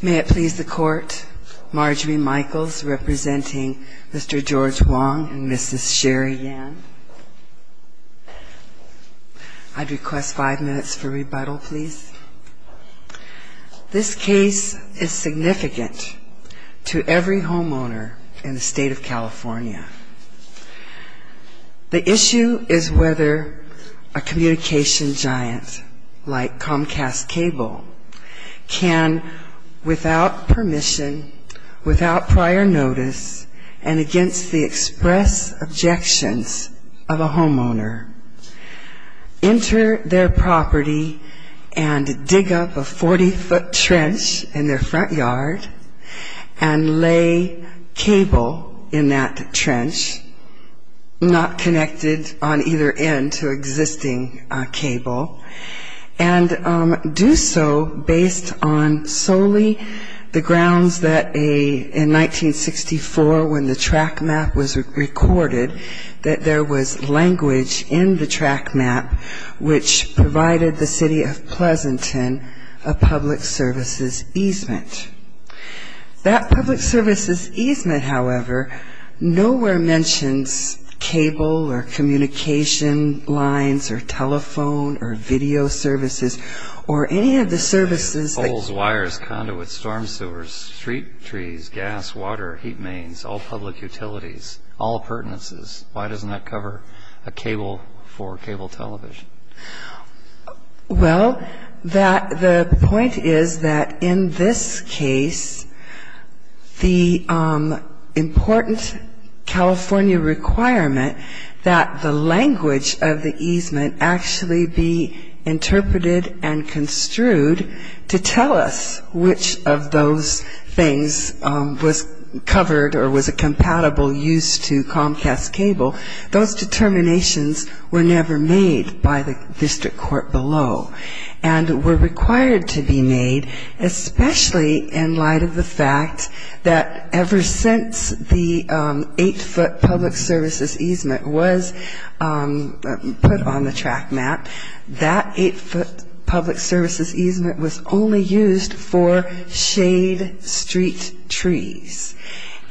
May it please the court, Marjorie Michaels representing Mr. George Wang and Mrs. Sherry Yan. I'd request five minutes for rebuttal, please. This case is significant to every homeowner in the state of California. The issue is whether a communication giant like Comcast Cable can, without permission, without prior notice, and against the express objections of a homeowner, enter their property and dig up a 40-foot trench in their front yard and lay cable in that trench. Not connected on either end to existing cable, and do so based on solely the grounds that in 1964 when the track map was recorded, that there was language in the track map which provided the City of Pleasanton a public services easement. That public services easement, however, nowhere mentions cable or communication lines or telephone or video services or any of the services. Holes, wires, conduits, storm sewers, street trees, gas, water, heat mains, all public utilities, all appurtenances. Why doesn't that cover a cable for cable television? Well, the point is that in this case, the important California requirement that the language of the easement actually be interpreted and construed to tell us which of those things was covered or was a compatible use to Comcast Cable. Those determinations were never made by the district court below and were required to be made, especially in light of the fact that ever since the eight-foot public services easement was put on the track map, that eight-foot public services easement was only used for shade street trees.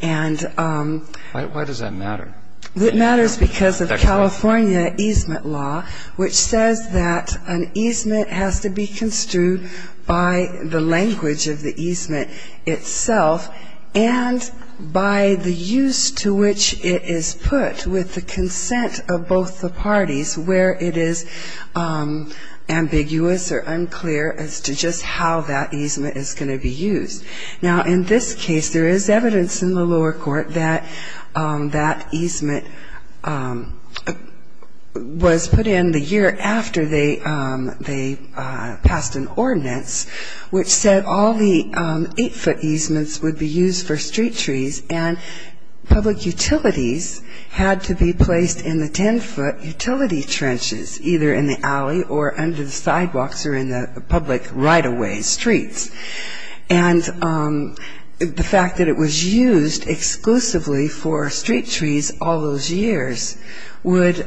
And why does that matter? It matters because of California easement law, which says that an easement has to be construed by the language of the easement itself and by the use to which it is put with the consent of both the parties where it is ambiguous or unclear as to just how that easement is going to be used. Now, in this case, there is evidence in the lower court that that easement was put in the year after they passed an ordinance, which said all the eight-foot easements would be used for street trees and public utilities had to be placed in the ten-foot utility trenches, either in the alley or under the sidewalks or in the public right-of-way streets. And the fact that it was used exclusively for street trees all those years would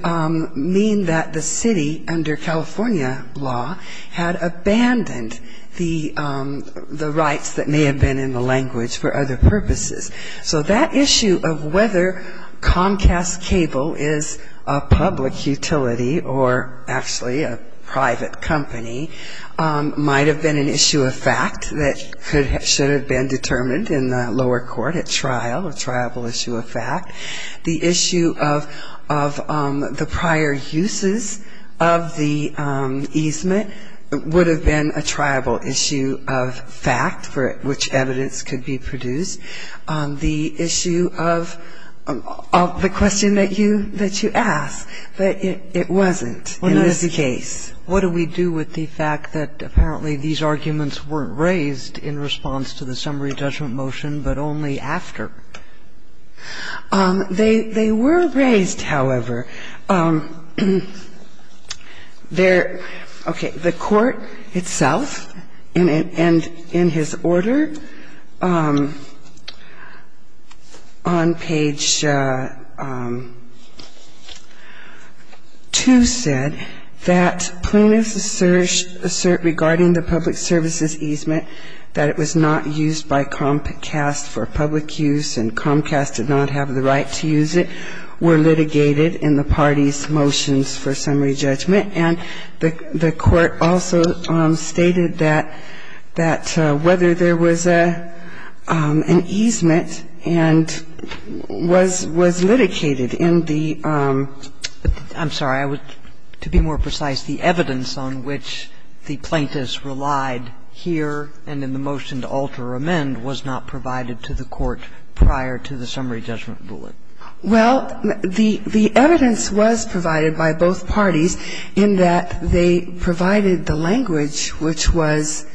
mean that the city under California law had abandoned the rights that may have been in the language for other purposes. So that issue of whether Comcast Cable is a public utility or actually a private company might have been an issue of fact. That should have been determined in the lower court at trial, a triable issue of fact. The issue of the prior uses of the easement would have been a triable issue of fact for which evidence could be produced. The issue of the question that you asked, that it wasn't in this case. What do we do with the fact that apparently these arguments weren't raised in response to the summary judgment motion, but only after? They were raised, however. There – okay. The court itself, and in his order on page 2, said that, plain as the assert regarding the public services easement, that it was not used by Comcast for public use and Comcast did not have the right to use it, were litigated in the party's motions for summary judgment. And the court also stated that whether there was an easement and was litigated in the – I'm sorry. I would, to be more precise, the evidence on which the plaintiffs relied here and in the motion to alter or amend was not provided to the court prior to the summary judgment ruling. Well, the evidence was provided by both parties in that they provided the language which was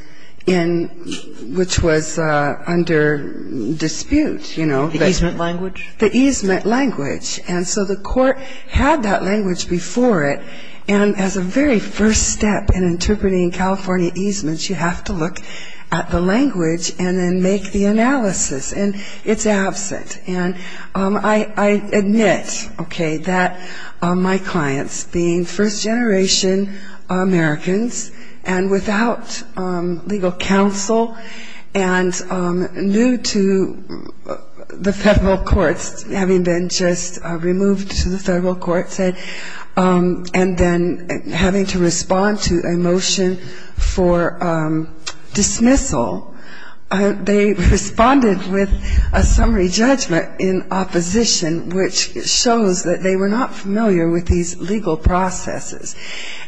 in – which was under dispute, you know. The easement language? The easement language. And so the court had that language before it, and as a very first step in interpreting California easements, you have to look at the language and then make the analysis, and it's absent. And I admit, okay, that my clients, being first-generation Americans and without legal counsel and new to the federal courts, having been just removed to the federal courts and then having to respond to a motion for dismissal, they responded with a summary judgment in opposition, which shows that they were not familiar with these legal processes.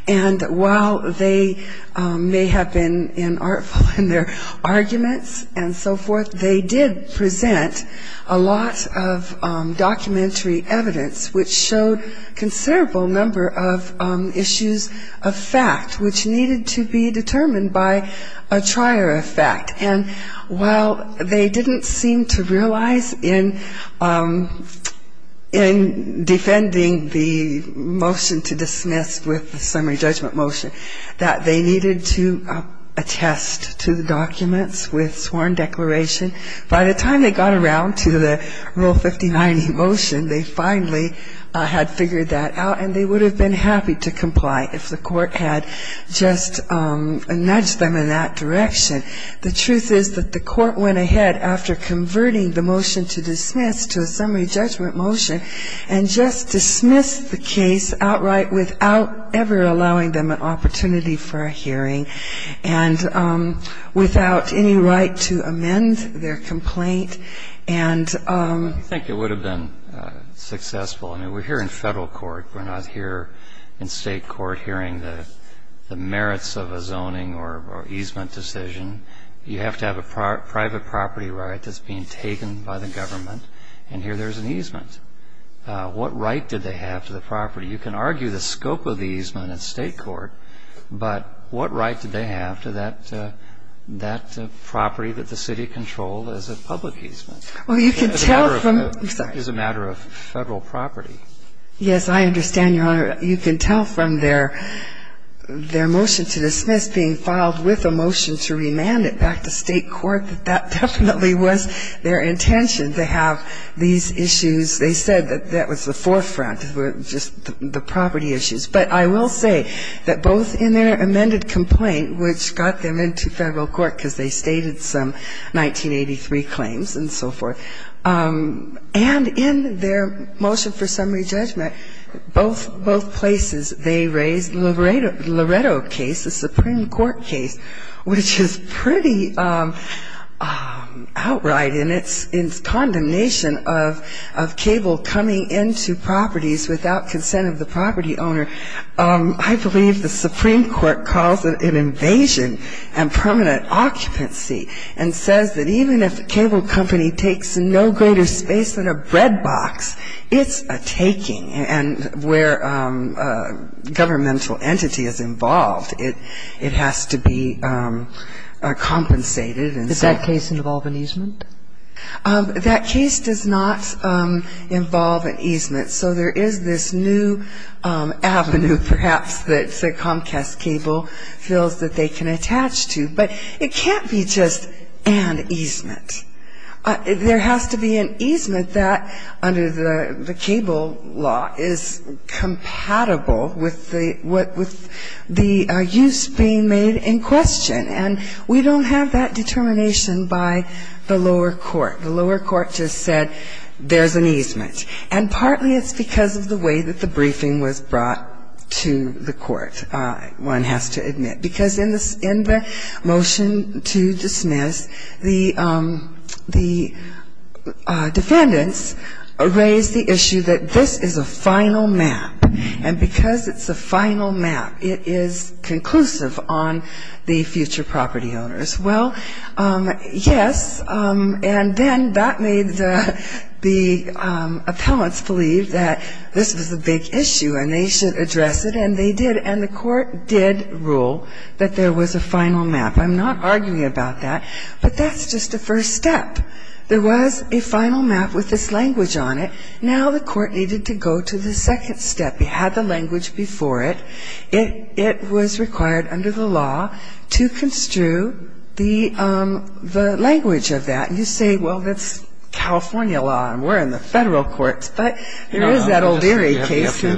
And while they may have been inartful in their arguments and so forth, they did present a lot of documentary evidence which showed considerable number of issues of fact which needed to be determined by a trier of fact. And while they didn't seem to realize in defending the motion to dismiss, they did present a lot of documentary evidence with the summary judgment motion that they needed to attest to the documents with sworn declaration. By the time they got around to the Rule 59 motion, they finally had figured that out, and they would have been happy to comply if the court had just nudged them in that direction. The truth is that the court went ahead after converting the motion to dismiss to a summary judgment motion and just dismissed the case outright without ever allowing them an opportunity for a hearing and without any right to amend their complaint. I think it would have been successful. I mean, we're here in federal court. We're not here in state court hearing the merits of a zoning or easement decision. You have to have a private property right that's being taken by the government, and here there's an easement. What right did they have to the property? You can argue the scope of the easement in state court, but what right did they have to that property that the city controlled as a public easement? It's a matter of federal property. Yes, I understand, Your Honor. You can tell from their motion to dismiss being filed with a motion to remand it back to state court that that definitely was their intention to have these issues. They said that that was the forefront, just the property issues. But I will say that both in their amended complaint, which got them into federal court because they stated some 1983 claims and so forth, and in their motion for summary judgment, both places, they raised the Loretto case, the Supreme Court case, which is pretty outright in its condemnation of cable coming into properties without consent of the property owner. I believe the Supreme Court calls it an invasion and permanent occupancy and says that even if the cable company takes no greater space than a bread box, it's a taking, and where a governmental entity is involved, it has to be compensated. Does that case involve an easement? That case does not involve an easement, so there is this new avenue, perhaps, that Comcast Cable feels that they can attach to. But it can't be just an easement. There has to be an easement that, under the cable law, is compatible with the use being made in question. And we don't have that determination by the lower court. The lower court just said there's an easement. And partly it's because of the way that the briefing was brought to the court, one has to admit. Because in the motion to dismiss, the defendants raised the issue that this is a final map, and because it's a final map, it is conclusive on the future property owners. Well, yes, and then that made the appellants believe that this was a big issue, and they should address it, and they did. And the court did rule that there was a final map. I'm not arguing about that, but that's just a first step. There was a final map with this language on it. Now the court needed to go to the second step. It had the language before it. It was required under the law to construe the language of that. And you say, well, that's California law and we're in the Federal courts, but there is that O'Leary case. You're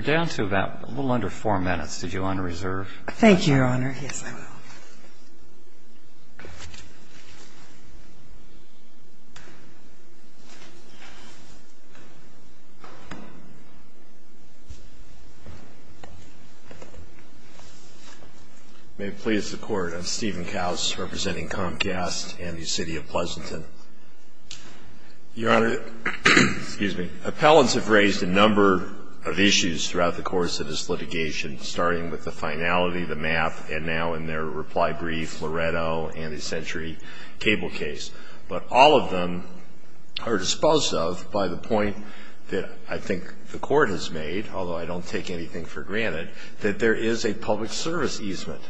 down to about a little under four minutes. Did you want to reserve? Thank you, Your Honor. Yes, I will. May it please the Court, I'm Stephen Kaus, representing Comcast and the City of Pleasanton. Your Honor, appellants have raised a number of issues throughout the course of this litigation, starting with the finality, the map, and now in their reply brief, Loretto and the Century Cable case. But all of them are disposed of by the point that I think the court has made, although I don't take anything for granted, that there is a public service easement.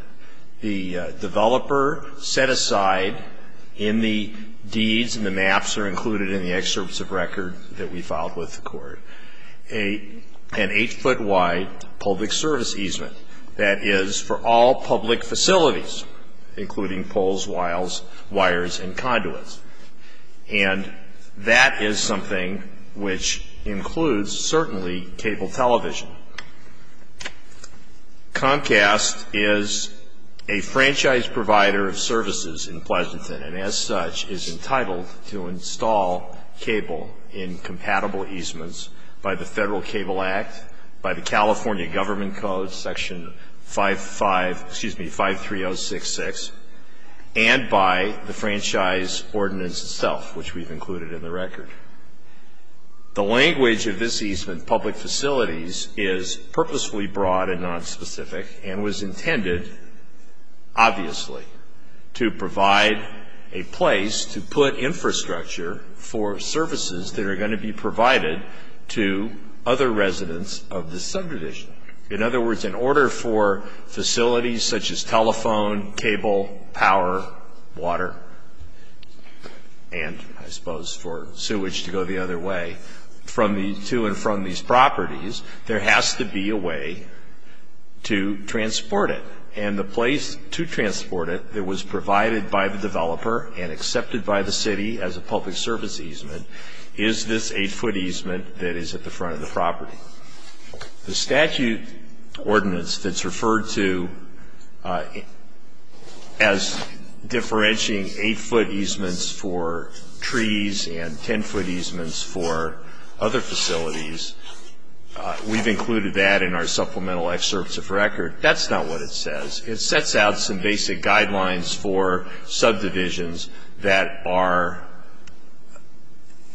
The developer set aside in the deeds, and the maps are included in the excerpts of record that we filed with the court, an eight-foot wide public service easement that is for all public facilities, including poles, wiles, wires, and conduits. And that is something which includes certainly cable television. Comcast is a franchise provider of services in Pleasanton and, as such, is entitled to install cable in compatible easements by the Federal Cable Act, by the California Government Code, Section 53066, and by the franchise ordinance itself, which we've included in the record. The language of this easement, public facilities, is purposefully broad and nonspecific and was intended, obviously, to provide a place to put infrastructure for services that are going to be provided to other residents of this subtradition. In other words, in order for facilities such as telephone, cable, power, water, and I suppose for sewage to go the other way, to and from these properties, there has to be a way to transport it. And the place to transport it that was provided by the developer and accepted by the city as a public service easement is this eight-foot easement that is at the front of the property. The statute ordinance that's referred to as differentiating eight-foot easements for trees and ten-foot easements for other facilities, we've included that in our supplemental excerpts of record. That's not what it says. It sets out some basic guidelines for subdivisions that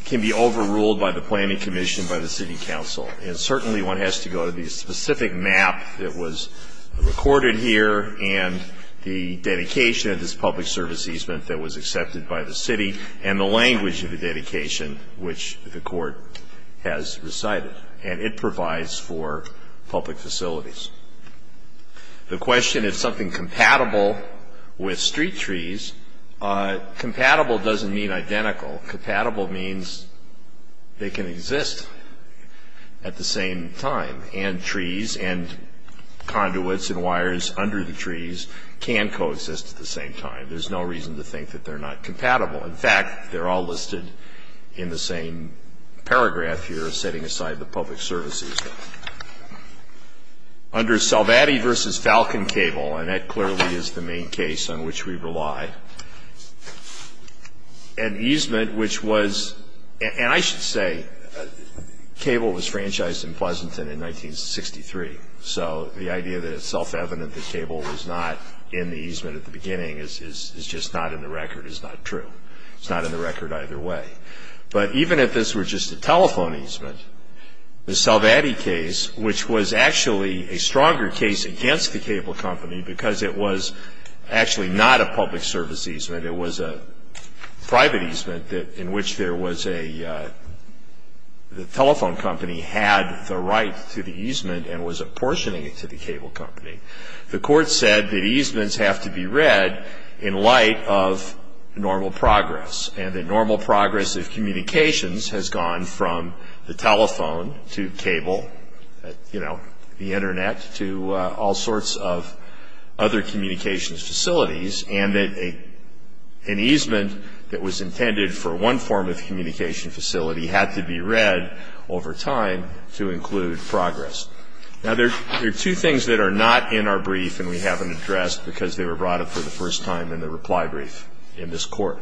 can be overruled by the planning commission, by the city council, and certainly one has to go to the specific map that was recorded here and the dedication of this public service easement that was accepted by the city and the language of the dedication which the court has recited. And it provides for public facilities. The question is something compatible with street trees. Compatible doesn't mean identical. Compatible means they can exist at the same time, and trees and conduits and wires under the trees can coexist at the same time. There's no reason to think that they're not compatible. In fact, they're all listed in the same paragraph here setting aside the public service easement. Under Salvatti v. Falcon Cable, and that clearly is the main case on which we rely, an easement which was, and I should say Cable was franchised in Pleasanton in 1963, so the idea that it's self-evident that Cable was not in the easement at the beginning is just not in the record. It's not true. It's not in the record either way. But even if this were just a telephone easement, the Salvatti case, which was actually a stronger case against the cable company because it was actually not a public service easement. It was a private easement in which there was a, the telephone company had the right to the easement and was apportioning it to the cable company. The court said that easements have to be read in light of normal progress, and that normal progress of communications has gone from the telephone to cable, you know, the Internet to all sorts of other communications facilities, and that an easement that was intended for one form of communication facility had to be read over time to include progress. Now, there are two things that are not in our brief and we haven't addressed because they were brought up for the first time in the reply brief in this court,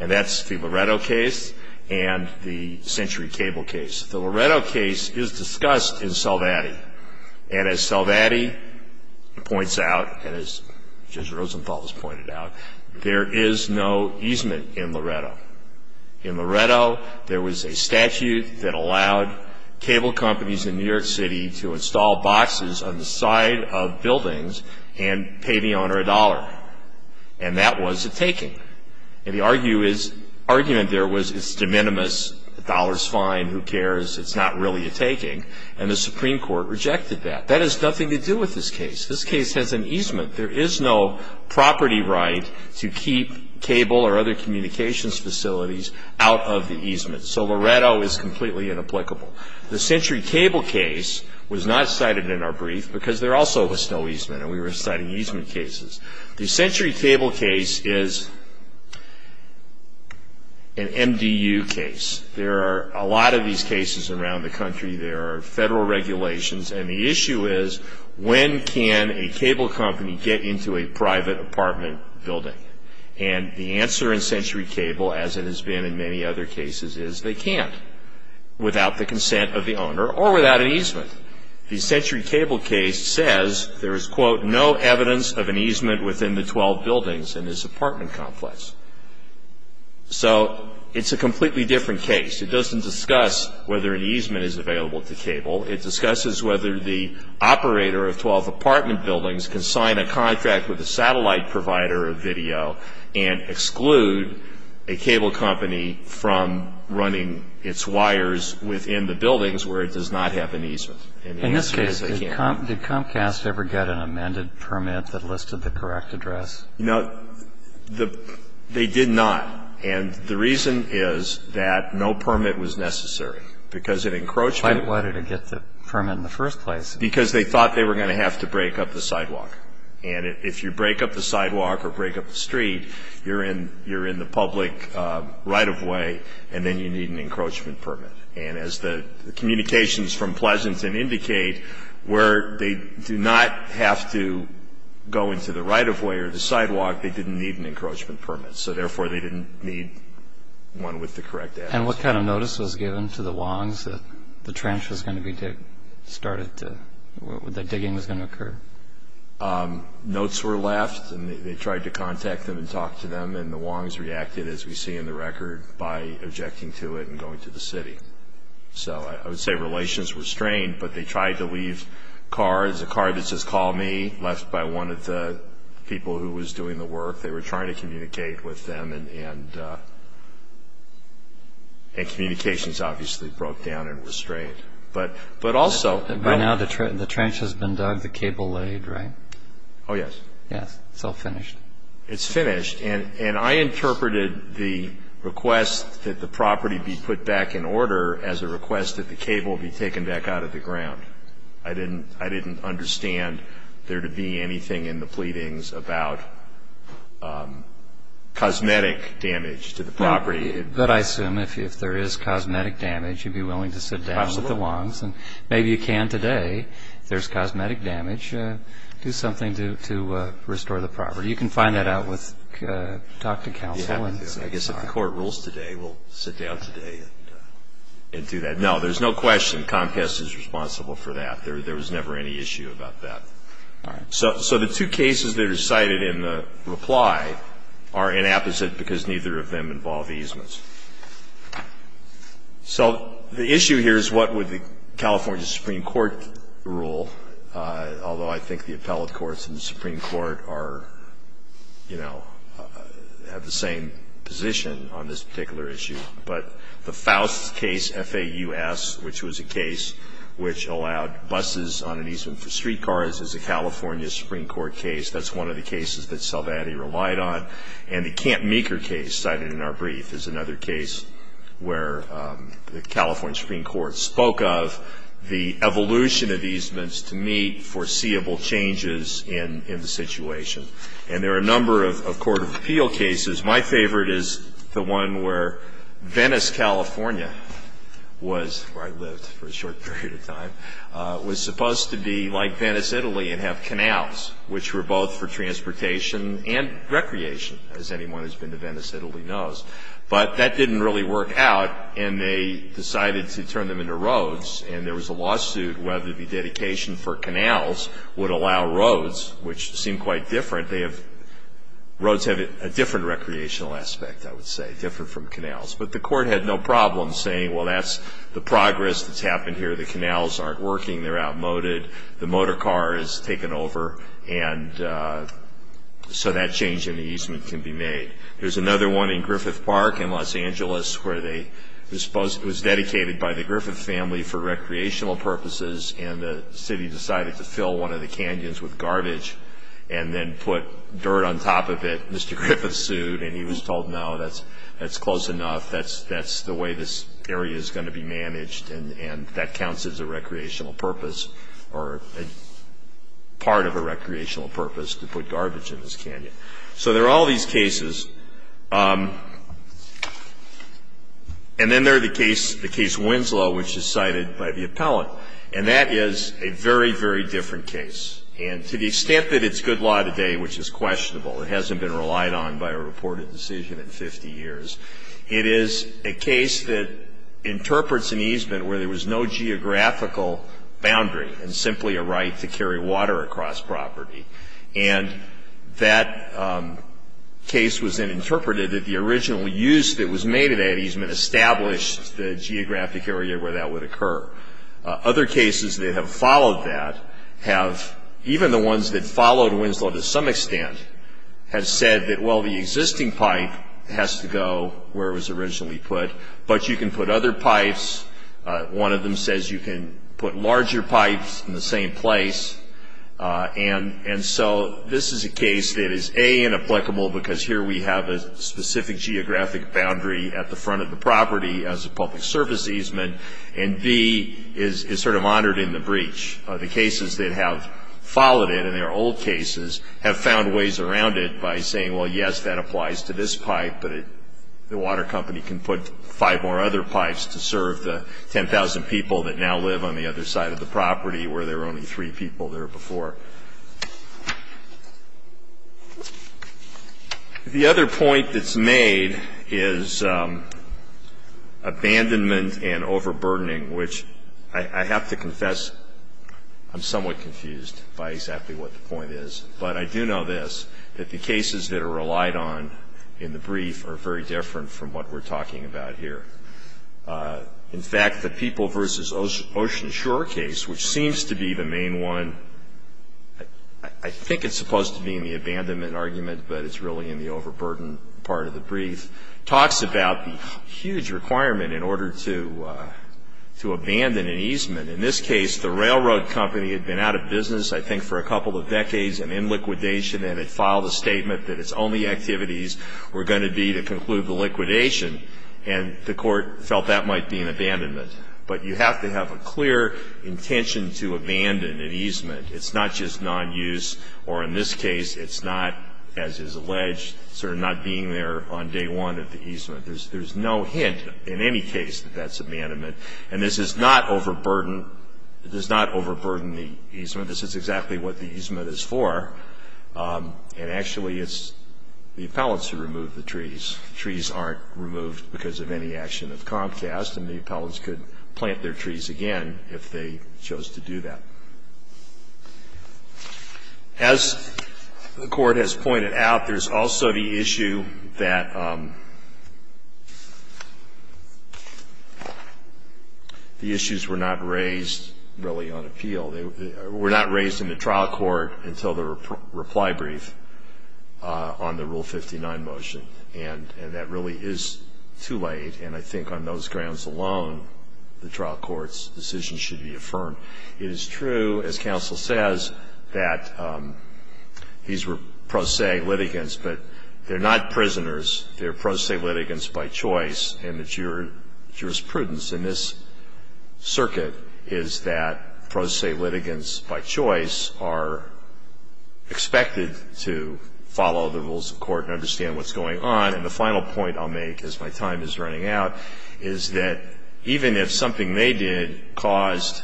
and that's the Loretto case and the Century Cable case. The Loretto case is discussed in Salvatti, and as Salvatti points out, and as Judge Rosenthal has pointed out, there is no easement in Loretto. In Loretto, there was a statute that allowed cable companies in New York City to install boxes on the side of buildings and pay the owner a dollar, and that was a taking. And the argument there was it's de minimis, the dollar's fine, who cares, it's not really a taking, and the Supreme Court rejected that. That has nothing to do with this case. This case has an easement. There is no property right to keep cable or other communications facilities out of the easement, so Loretto is completely inapplicable. The Century Cable case was not cited in our brief because there also was no easement, and we were citing easement cases. The Century Cable case is an MDU case. There are a lot of these cases around the country. There are federal regulations, and the issue is when can a cable company get into a private apartment building? And the answer in Century Cable, as it has been in many other cases, is they can't, without the consent of the owner or without an easement. The Century Cable case says there is, quote, no evidence of an easement within the 12 buildings in this apartment complex. So it's a completely different case. It doesn't discuss whether an easement is available to cable. It discusses whether the operator of 12 apartment buildings can sign a contract with a satellite provider of video and exclude a cable company from running its wires within the buildings where it does not have an easement. In this case, did Comcast ever get an amended permit that listed the correct address? No. They did not. And the reason is that no permit was necessary because an encroachment Why did it get the permit in the first place? Because they thought they were going to have to break up the sidewalk. And if you break up the sidewalk or break up the street, you're in the public right-of-way, and then you need an encroachment permit. And as the communications from Pleasanton indicate, where they do not have to go into the right-of-way or the sidewalk, they didn't need an encroachment permit. So therefore, they didn't need one with the correct address. And what kind of notice was given to the Wongs that the trench was going to be started, that digging was going to occur? Notes were left, and they tried to contact them and talk to them, and the Wongs reacted, as we see in the record, by objecting to it and going to the city. So I would say relations were strained, but they tried to leave cards. A card that says, call me, left by one of the people who was doing the work. They were trying to communicate with them, and communications obviously broke down and were strained. But also by now the trench has been dug, the cable laid, right? Oh, yes. Yes, it's all finished. It's finished, and I interpreted the request that the property be put back in order as a request that the cable be taken back out of the ground. I didn't understand there to be anything in the pleadings about cosmetic damage to the property. But I assume if there is cosmetic damage, you'd be willing to sit down with the Wongs. And maybe you can today. If there's cosmetic damage, do something to restore the property. You can find that out with Dr. Counsel. I guess if the court rules today, we'll sit down today and do that. No, there's no question Comcast is responsible for that. There was never any issue about that. All right. So the two cases that are cited in the reply are inapposite because neither of them involve easements. So the issue here is what would the California Supreme Court rule, although I think the appellate courts and the Supreme Court are, you know, have the same position on this particular issue. But the Foust case, F-A-U-S, which was a case which allowed buses on an easement for streetcars is a California Supreme Court case. That's one of the cases that Salvatti relied on. And the Camp Meeker case cited in our brief is another case where the California Supreme Court spoke of the evolution of easements to meet foreseeable changes in the situation. And there are a number of court of appeal cases. My favorite is the one where Venice, California was, where I lived for a short period of time, was supposed to be like Venice, Italy and have canals, which were both for transportation and recreation, as anyone who's been to Venice, Italy knows. But that didn't really work out, and they decided to turn them into roads. And there was a lawsuit whether the dedication for canals would allow roads, which seemed quite different. Roads have a different recreational aspect, I would say, different from canals. But the court had no problem saying, well, that's the progress that's happened here. The canals aren't working. They're outmoded. The motor car is taken over. And so that change in the easement can be made. There's another one in Griffith Park in Los Angeles where it was dedicated by the Griffith family for recreational purposes, and the city decided to fill one of the canyons with dirt on top of it. Mr. Griffith sued, and he was told, no, that's close enough. That's the way this area is going to be managed, and that counts as a recreational purpose or part of a recreational purpose to put garbage in this canyon. So there are all these cases. And then there's the case Winslow, which is cited by the appellant. And that is a very, very different case. And to the extent that it's good law today, which is questionable, it hasn't been relied on by a reported decision in 50 years, it is a case that interprets an easement where there was no geographical boundary and simply a right to carry water across property. And that case was then interpreted that the original use that was made of that easement established the geographic area where that would occur. Other cases that have followed that have, even the ones that followed Winslow to some extent, have said that, well, the existing pipe has to go where it was originally put, but you can put other pipes. One of them says you can put larger pipes in the same place. And so this is a case that is, A, inapplicable because here we have a specific geographic boundary at the front of the property as a public service easement, and, B, is sort of honored in the breach. The cases that have followed it, and there are old cases, have found ways around it by saying, well, yes, that applies to this pipe, but the water company can put five more other pipes to serve the 10,000 people that now live on the other side of the property where there were only three people there before. The other point that's made is abandonment and overburdening, which I have to confess I'm somewhat confused by exactly what the point is. But I do know this, that the cases that are relied on in the brief are very different from what we're talking about here. In fact, the people versus ocean shore case, which seems to be the main one, I think it's supposed to be in the abandonment argument, but it's really in the overburden part of the brief, talks about the huge requirement in order to abandon an easement. In this case, the railroad company had been out of business I think for a couple of decades and in liquidation, and it filed a statement that its only activities were going to be to conclude the liquidation, and the court felt that might be an abandonment. But you have to have a clear intention to abandon an easement. It's not just non-use, or in this case, it's not, as is alleged, sort of not being there on day one of the easement. There's no hint in any case that that's abandonment. And this is not overburdening the easement. This is exactly what the easement is for. And actually, it's the appellants who remove the trees. Trees aren't removed because of any action of Comcast, and the appellants could plant their trees again if they chose to do that. As the court has pointed out, there's also the issue that the issues were not raised really on appeal. They were not raised in the trial court until the reply brief on the Rule 59 motion. And that really is too late, and I think on those grounds alone, the trial court's decision should be affirmed. It is true, as counsel says, that these were pro se litigants, but they're not prisoners. They're pro se litigants by choice, and the jurisprudence in this circuit is that pro se litigants by choice are expected to follow the rules of court and understand what's going on. And the final point I'll make, as my time is running out, is that even if something they did caused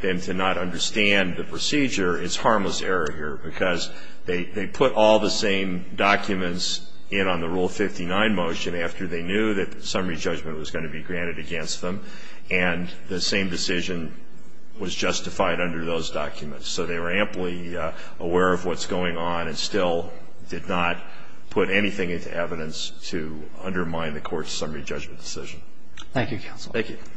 them to not understand the procedure, it's harmless error here because they put all the same documents in on the Rule 59 motion after they knew that summary judgment was going to be granted against them, and the same decision was justified under those documents. So they were amply aware of what's going on and still did not put anything into evidence to undermine the court's summary judgment decision. Thank you, counsel. Thank you. Thank you.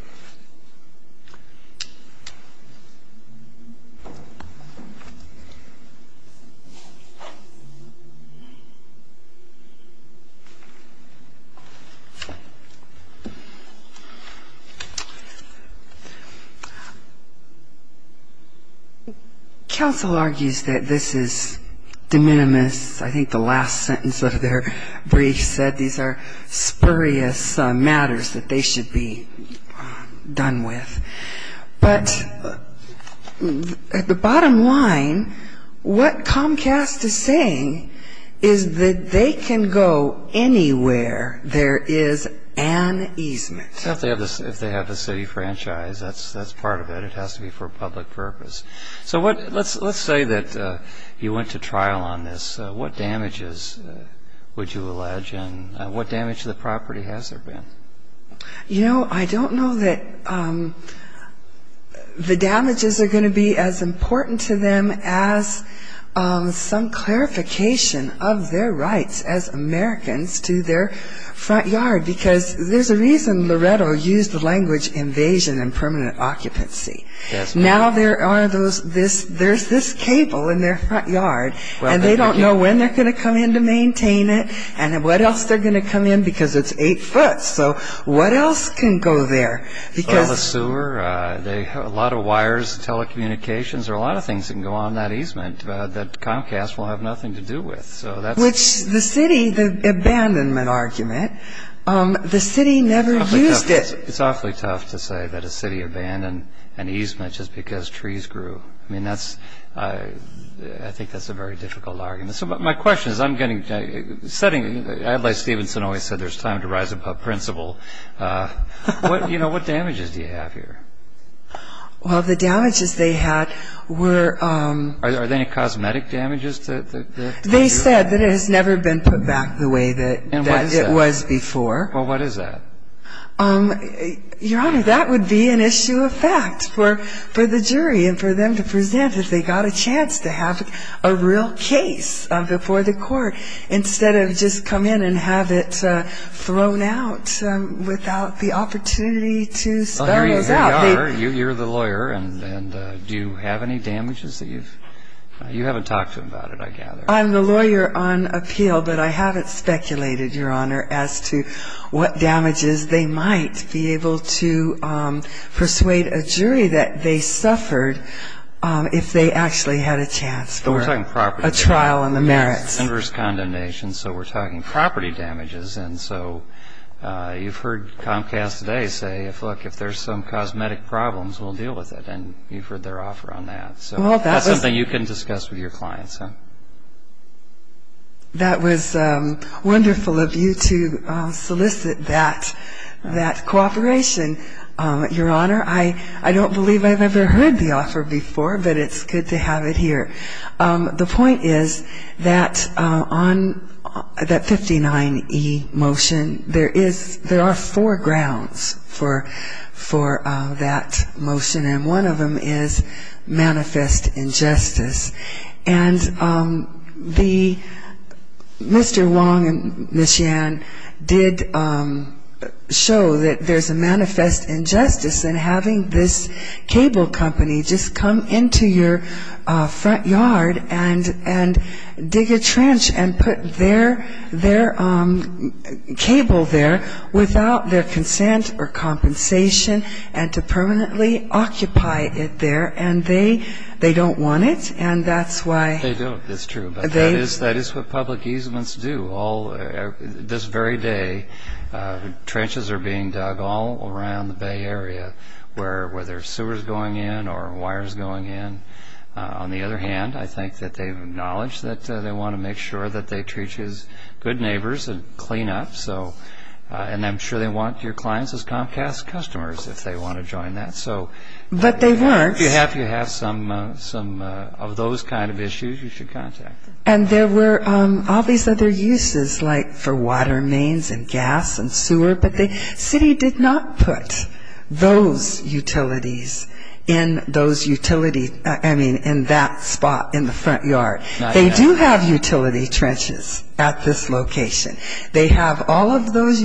Counsel argues that this is de minimis. I think the last sentence of their brief said these are spurious matters, that they should be done with. But at the bottom line, what Comcast is saying is that they can go anywhere there is an easement. If they have the city franchise, that's part of it. It has to be for public purpose. So let's say that you went to trial on this. What damages would you allege? And what damage to the property has there been? You know, I don't know that the damages are going to be as important to them as some clarification of their rights as Americans to their front yard, because there's a reason Loretto used the language invasion and permanent occupancy. Now there's this cable in their front yard, and they don't know when they're going to come in to maintain it, and what else they're going to come in because it's eight foot. So what else can go there? Well, the sewer, a lot of wires, telecommunications, there are a lot of things that can go on that easement that Comcast will have nothing to do with. Which the city, the abandonment argument, the city never used it. It's awfully tough to say that a city abandoned an easement just because trees grew. I mean, that's, I think that's a very difficult argument. So my question is, I'm getting, setting, Adlai Stevenson always said there's time to rise above principle. You know, what damages do you have here? Well, the damages they had were. Are there any cosmetic damages? They said that it has never been put back the way that it was before. Well, what is that? Your Honor, that would be an issue of fact for the jury and for them to present if they got a chance to have a real case before the court instead of just come in and have it thrown out without the opportunity to spell those out. Well, here you are. You're the lawyer, and do you have any damages that you've, you haven't talked to him about it, I gather. As to what damages they might be able to persuade a jury that they suffered if they actually had a chance for a trial on the merits. We're talking property damages, inverse condemnation. So we're talking property damages. And so you've heard Comcast today say, look, if there's some cosmetic problems, we'll deal with it. And you've heard their offer on that. So that's something you can discuss with your clients. That was wonderful of you to solicit that cooperation, Your Honor. I don't believe I've ever heard the offer before, but it's good to have it here. The point is that on that 59E motion, there are four grounds for that motion, and one of them is manifest injustice. And Mr. Wong and Ms. Yan did show that there's a manifest injustice in having this cable company just come into your front yard and dig a trench and put their cable there without their consent or compensation and to permanently occupy it there. And they don't want it, and that's why. They don't. It's true, but that is what public easements do. This very day, trenches are being dug all around the Bay Area where there are sewers going in or wires going in. On the other hand, I think that they've acknowledged that they want to make sure that they treat you as good neighbors and clean up. And I'm sure they want your clients as Comcast customers if they want to join that. If you have some of those kind of issues, you should contact them. And there were all these other uses like for water mains and gas and sewer, but the city did not put those utilities in that spot in the front yard. They do have utility trenches at this location. They have all of those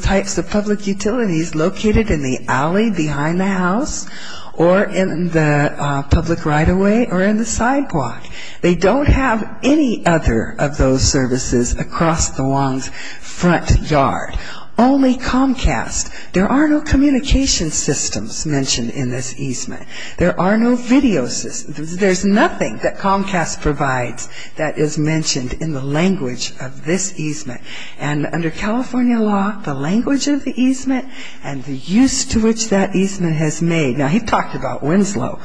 types of public utilities located in the alley behind the house or in the public right-of-way or in the sidewalk. They don't have any other of those services across the Long's front yard. Only Comcast. There are no communication systems mentioned in this easement. There are no video systems. There's nothing that Comcast provides that is mentioned in the language of this easement. And under California law, the language of the easement and the use to which that easement has made. Now, he talked about Winslow.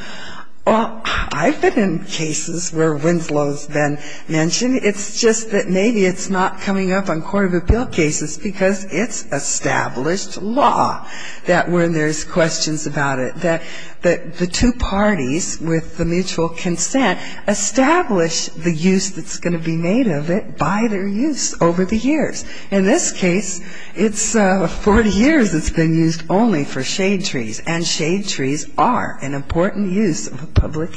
I've been in cases where Winslow's been mentioned. It's just that maybe it's not coming up on court of appeal cases because it's established law that when there's questions about it, that the two parties with the mutual consent establish the use that's going to be made of it by their use over the years. In this case, it's 40 years it's been used only for shade trees, and shade trees are an important use of a public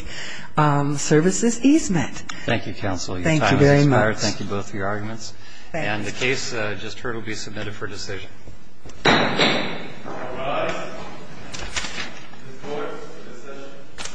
services easement. Thank you, counsel. Your time has expired. Thank you both for your arguments. And the case just heard will be submitted for decision. All rise. This court is in a session.